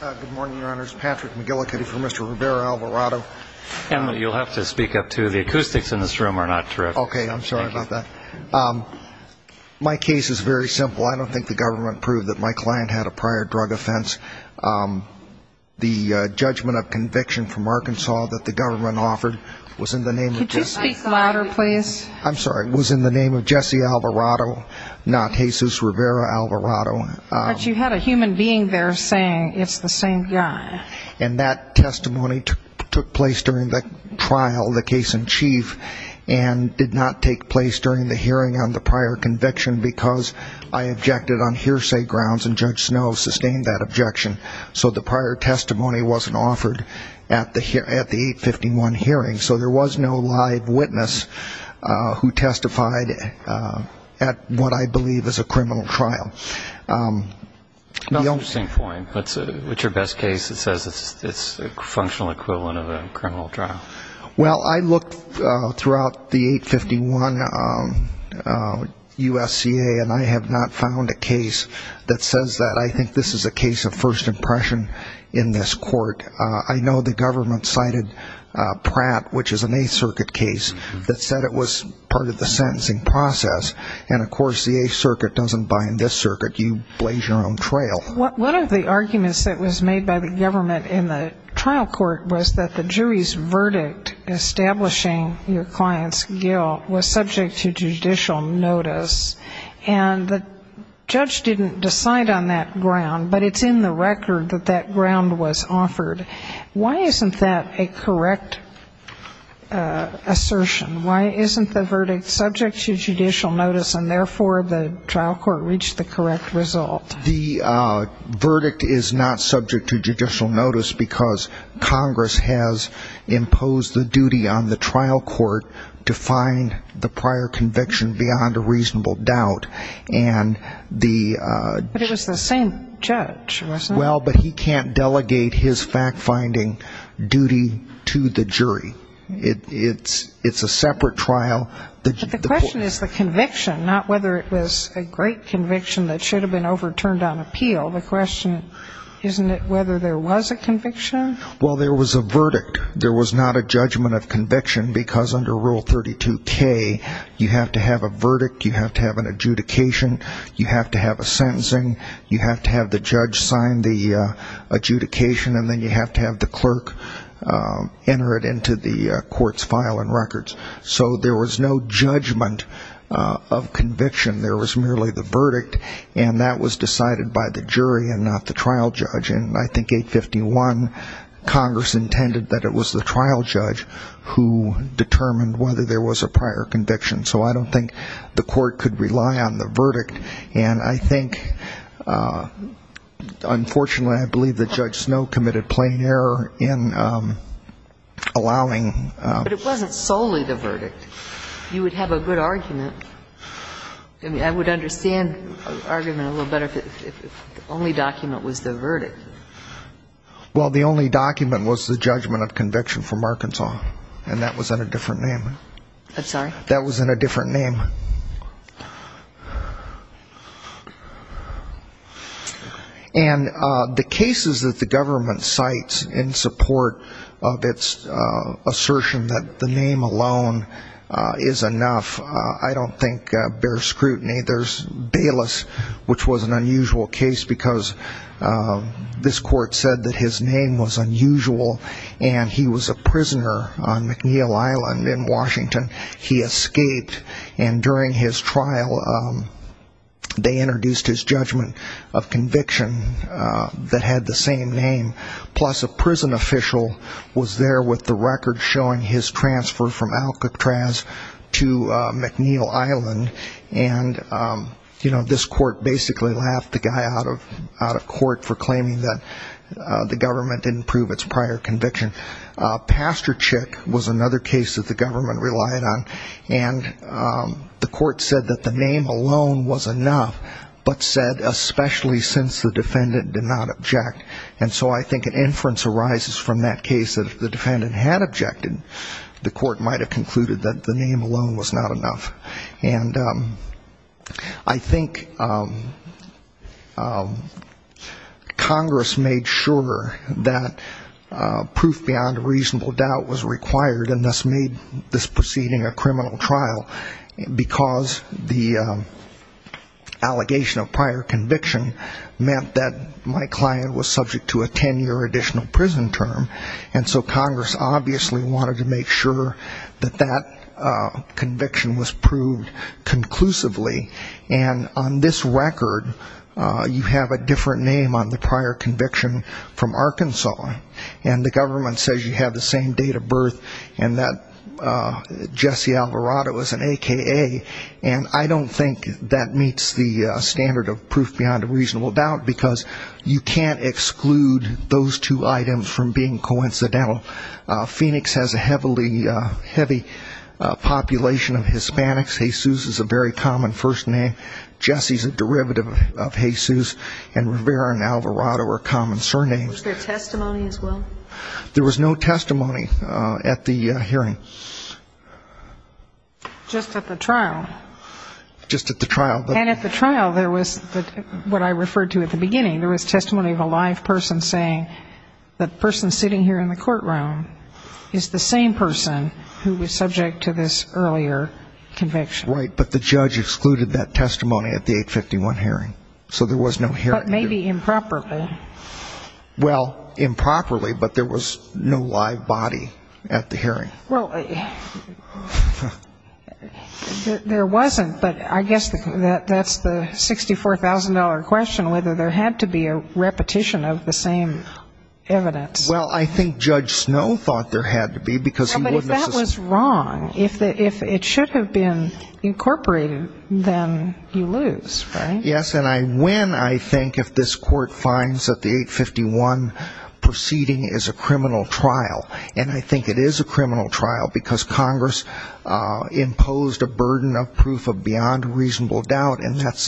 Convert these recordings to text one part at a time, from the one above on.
Good morning, Your Honors. Patrick McGillicuddy for Mr. Rivera-Alvarado. Emily, you'll have to speak up, too. The acoustics in this room are not terrific. Okay. I'm sorry about that. My case is very simple. I don't think the government proved that my client had a prior drug offense. The judgment of conviction from Arkansas that the government offered was in the name of – Could you speak louder, please? I'm sorry. It was in the name of Jesse Alvarado, not Jesus Rivera-Alvarado. But you had a human being there saying it's the same guy. And that testimony took place during the trial, the case in chief, and did not take place during the hearing on the prior conviction because I objected on hearsay grounds, and Judge Snow sustained that objection. So the prior testimony wasn't offered at the 851 hearing. So there was no live witness who testified at what I believe is a criminal trial. That's an interesting point. What's your best case that says it's a functional equivalent of a criminal trial? Well, I looked throughout the 851 USCA, and I have not found a case that says that. I think this is a case of first impression in this court. I know the government cited Pratt, which is an Eighth Circuit case, that said it was part of the sentencing process. And, of course, the Eighth Circuit doesn't bind this circuit. You blaze your own trail. One of the arguments that was made by the government in the trial court was that the jury's verdict establishing your client's guilt was subject to judicial notice. And the judge didn't decide on that ground, but it's in the record that that ground was offered. Why isn't that a correct assertion? Why isn't the verdict subject to judicial notice, and therefore the trial court reached the correct result? The verdict is not subject to judicial notice because Congress has imposed the duty on the trial court to find the prior conviction beyond a reasonable doubt. But it was the same judge, wasn't it? Well, but he can't delegate his fact-finding duty to the jury. It's a separate trial. But the question is the conviction, not whether it was a great conviction that should have been overturned on appeal. The question, isn't it whether there was a conviction? Well, there was a verdict. There was not a judgment of conviction because under Rule 32K, you have to have a verdict, you have to have an adjudication, you have to have a sentencing, you have to have the judge sign the adjudication, and then you have to have the clerk enter it into the court's file and records. So there was no judgment of conviction. There was merely the verdict, and that was decided by the jury and not the trial judge. And I think 851, Congress intended that it was the trial judge who determined whether there was a prior conviction. So I don't think the court could rely on the verdict. And I think, unfortunately, I believe that Judge Snow committed plain error in allowing ---- But it wasn't solely the verdict. You would have a good argument. I mean, I would understand the argument a little better if the only document was the verdict. Well, the only document was the judgment of conviction from Arkansas, and that was in a different name. I'm sorry? That was in a different name. And the cases that the government cites in support of its assertion that the name alone is enough, I don't think bear scrutiny. There's Bayless, which was an unusual case because this court said that his name was unusual, and he was a prisoner on McNeil Island in Washington. He escaped, and during his trial, they introduced his judgment of conviction that had the same name. Plus, a prison official was there with the record showing his transfer from Alcatraz to McNeil Island, and, you know, this court basically laughed the guy out of court for claiming that the government didn't prove its prior conviction. Pasterchik was another case that the government relied on, and the court said that the name alone was enough, but said especially since the defendant did not object. And so I think an inference arises from that case that if the defendant had objected, the court might have concluded that the name alone was not enough. And I think Congress made sure that proof beyond a reasonable doubt was required, and thus made this proceeding a criminal trial, because the allegation of prior conviction meant that my client was subject to a ten-year additional prison term. And so Congress obviously wanted to make sure that that conviction was proved conclusively. And on this record, you have a different name on the prior conviction from Arkansas, and the government says you have the same date of birth and that Jesse Alvarado is an AKA, and I don't think that meets the standard of proof beyond a reasonable doubt, because you can't exclude those two items from being coincidental. Phoenix has a heavily heavy population of Hispanics. Jesus is a very common first name. Jesse is a derivative of Jesus, and Rivera and Alvarado are common surnames. Was there testimony as well? There was no testimony at the hearing. Just at the trial? Just at the trial. And at the trial, there was what I referred to at the beginning. There was testimony of a live person saying that the person sitting here in the courtroom is the same person who was subject to this earlier conviction. Right, but the judge excluded that testimony at the 851 hearing, so there was no hearing. But maybe improperly. Well, improperly, but there was no live body at the hearing. Well, there wasn't, but I guess that's the $64,000 question, whether there had to be a repetition of the same evidence. Well, I think Judge Snow thought there had to be, because he wouldn't necessarily. Well, but if that was wrong, if it should have been incorporated, then you lose, right? Yes, and I win, I think, if this court finds that the 851 proceeding is a criminal trial, and I think it is a criminal trial because Congress imposed a burden of proof of beyond reasonable doubt, and that's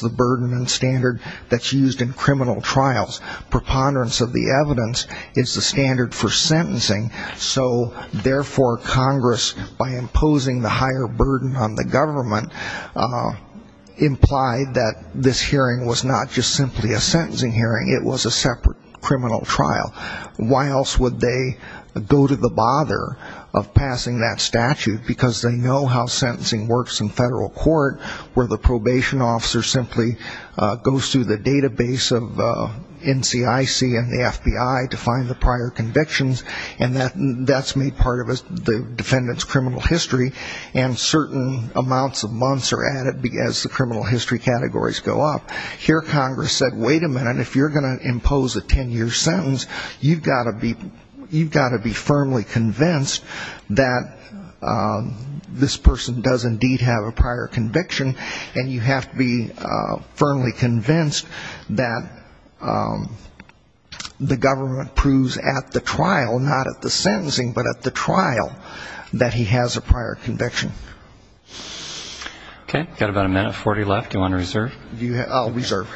the burden and standard that's used in criminal trials. Preponderance of the evidence is the standard for sentencing, so therefore Congress, by imposing the higher burden on the government, implied that this hearing was not just simply a sentencing hearing. It was a separate criminal trial. Why else would they go to the bother of passing that statute? Because they know how sentencing works in federal court, where the probation officer simply goes through the database of NCIC and the FBI to find the prior convictions, and that's made part of the defendant's criminal history, and certain amounts of months are added as the criminal history categories go up. Here Congress said, wait a minute, if you're going to impose a ten-year sentence, you've got to be firmly convinced that this person does indeed have a prior conviction, and you have to be firmly convinced that the government proves at the trial, not at the sentencing, but at the trial, that he has a prior conviction. Okay. Got about a minute, 40 left. Do you want to reserve? I'll reserve.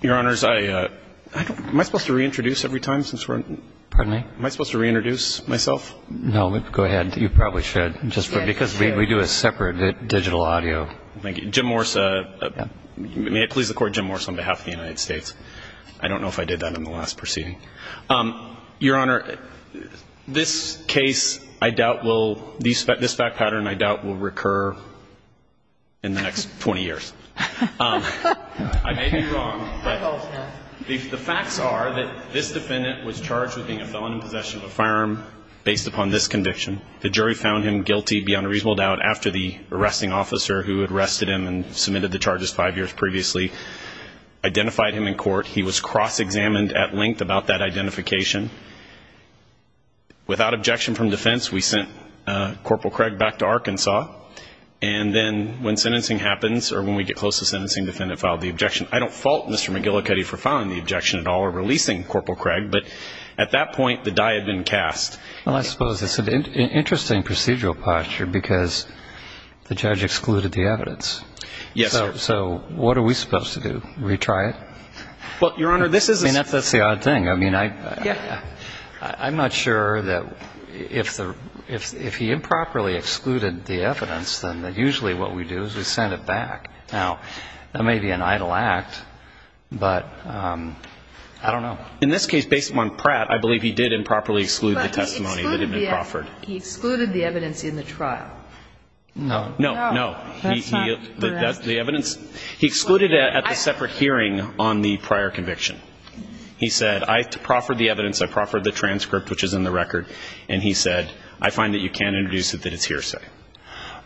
Your Honors, am I supposed to reintroduce every time since we're? Pardon me? Am I supposed to reintroduce myself? No. Go ahead. You probably should, just because we do a separate digital audio. Thank you. Jim Morse, may it please the Court, Jim Morse on behalf of the United States. I don't know if I did that in the last proceeding. Your Honor, this case I doubt will, this fact pattern I doubt will recur in the next 20 years. I may be wrong, but the facts are that this defendant was charged with being a felon in possession of a firearm based upon this conviction. The jury found him guilty beyond a reasonable doubt after the arresting officer who had arrested him and submitted the charges five years previously identified him in court. He was cross-examined at length about that identification. Without objection from defense, we sent Corporal Craig back to Arkansas. And then when sentencing happens, or when we get close to sentencing, the defendant filed the objection. I don't fault Mr. McGillicuddy for filing the objection at all or releasing Corporal Craig, but at that point the die had been cast. Well, I suppose it's an interesting procedural posture because the judge excluded the evidence. Yes, sir. So what are we supposed to do? Retry it? Well, Your Honor, this is a... I mean, that's the odd thing. I mean, I'm not sure that if he improperly excluded the evidence, then usually what we do is we send it back. Now, that may be an idle act, but I don't know. In this case, based upon Pratt, I believe he did improperly exclude the testimony that had been proffered. But he excluded the evidence in the trial. No. No. No. That's not correct. He excluded it at the separate hearing on the prior conviction. He said, I proffered the evidence, I proffered the transcript, which is in the record, and he said, I find that you can't introduce it, that it's hearsay.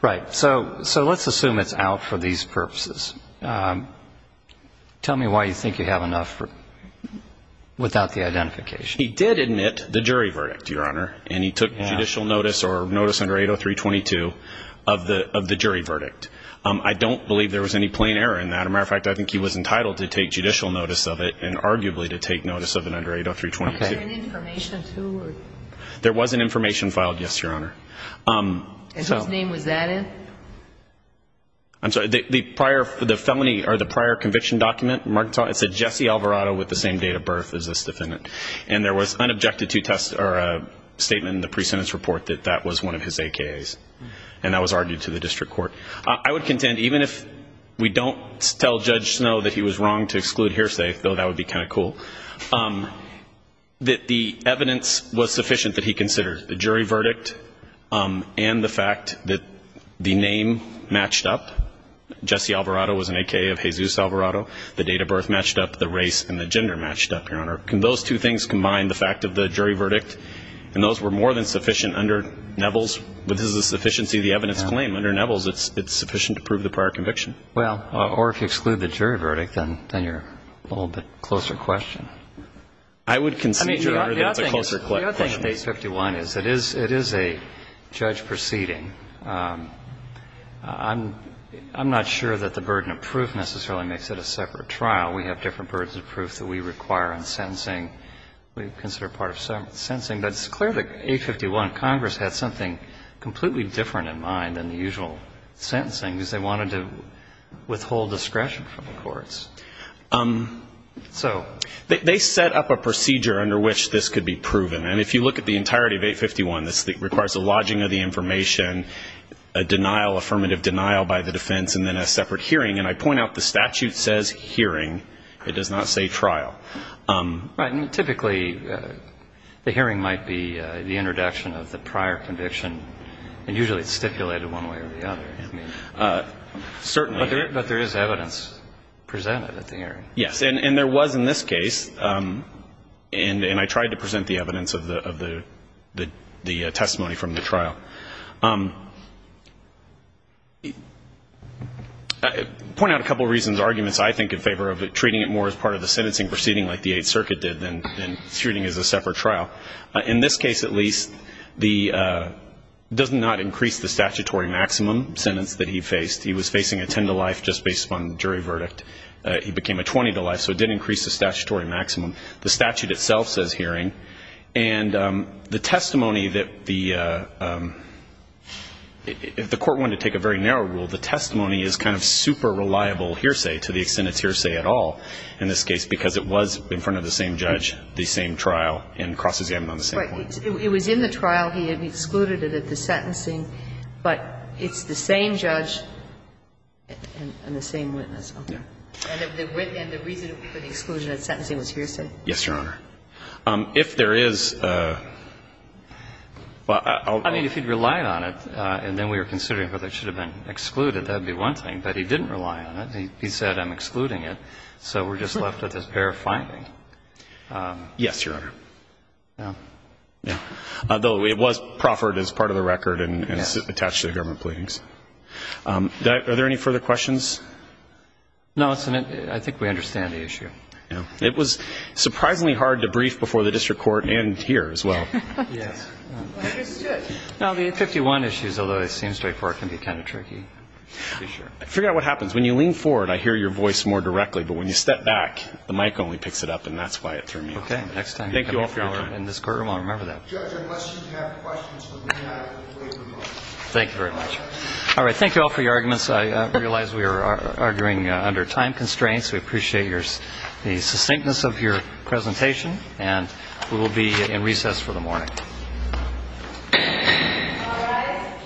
Right. So let's assume it's out for these purposes. Tell me why you think you have enough without the identification. He did admit the jury verdict, Your Honor, and he took judicial notice or notice under 803.22 of the jury verdict. I don't believe there was any plain error in that. As a matter of fact, I think he was entitled to take judicial notice of it and arguably to take notice of it under 803.22. Was there any information, too? There was an information filed, yes, Your Honor. And whose name was that in? I'm sorry, the prior felony or the prior conviction document, it said Jesse Alvarado with the same date of birth as this defendant. And there was an objective statement in the pre-sentence report that that was one of his AKAs, and that was argued to the district court. I would contend, even if we don't tell Judge Snow that he was wrong to exclude hearsay, though that would be kind of cool, that the evidence was sufficient that he considered, the jury verdict and the fact that the name matched up, Jesse Alvarado was an AKA of Jesus Alvarado, the date of birth matched up, the race and the gender matched up, Your Honor. Can those two things combine, the fact of the jury verdict, and those were more than sufficient under Neville's, but this is a sufficiency of the evidence claim. Under Neville's, it's sufficient to prove the prior conviction. Well, or if you exclude the jury verdict, then you're a little bit closer question. I would concede, Your Honor, that it's a closer question. The other thing with 851 is it is a judge proceeding. I'm not sure that the burden of proof necessarily makes it a separate trial. We have different burdens of proof that we require in sentencing. We consider it part of sentencing. But it's clear that 851, Congress had something completely different in mind than the usual sentencing, because they wanted to withhold discretion from the courts. So? They set up a procedure under which this could be proven. And if you look at the entirety of 851, this requires a lodging of the information, a denial, affirmative denial by the defense, and then a separate hearing. And I point out the statute says hearing. It does not say trial. Right. And typically the hearing might be the introduction of the prior conviction, and usually it's stipulated one way or the other. Certainly. But there is evidence presented at the hearing. Yes. And there was in this case. And I tried to present the evidence of the testimony from the trial. I point out a couple of reasons, arguments, I think, in favor of treating it more as part of the sentencing proceeding like the Eighth Circuit did than treating it as a separate trial. In this case, at least, it does not increase the statutory maximum sentence that he faced. He was facing a 10-to-life just based upon jury verdict. He became a 20-to-life, so it did increase the statutory maximum. The statute itself says hearing. And the testimony that the court wanted to take a very narrow rule, the testimony is kind of super reliable hearsay to the extent it's hearsay at all in this case because it was in front of the same judge, the same trial, and crosses him on the same point. Right. It was in the trial. He had excluded it at the sentencing. But it's the same judge and the same witness. And the reason for the exclusion at sentencing was hearsay. Yes, Your Honor. If there is a – I mean, if he'd relied on it and then we were considering whether it should have been excluded, that would be one thing. But he didn't rely on it. He said, I'm excluding it, so we're just left with this pair of findings. Yes, Your Honor. Yeah. Though it was proffered as part of the record and attached to the government pleadings. Are there any further questions? No. I think we understand the issue. Yeah. It was surprisingly hard to brief before the district court and here as well. Yes. No, the 51 issues, although it seems straightforward, can be kind of tricky. I figure out what happens. When you lean forward, I hear your voice more directly. But when you step back, the mic only picks it up, and that's why it threw me off. Okay. Thank you all for your time. In this courtroom, I'll remember that. Judge, unless you have questions for me, I will wait for Mark. Thank you very much. All right. Thank you all for your arguments. I realize we are arguing under time constraints. We appreciate the succinctness of your presentation, and we will be in recess for the morning. All rise.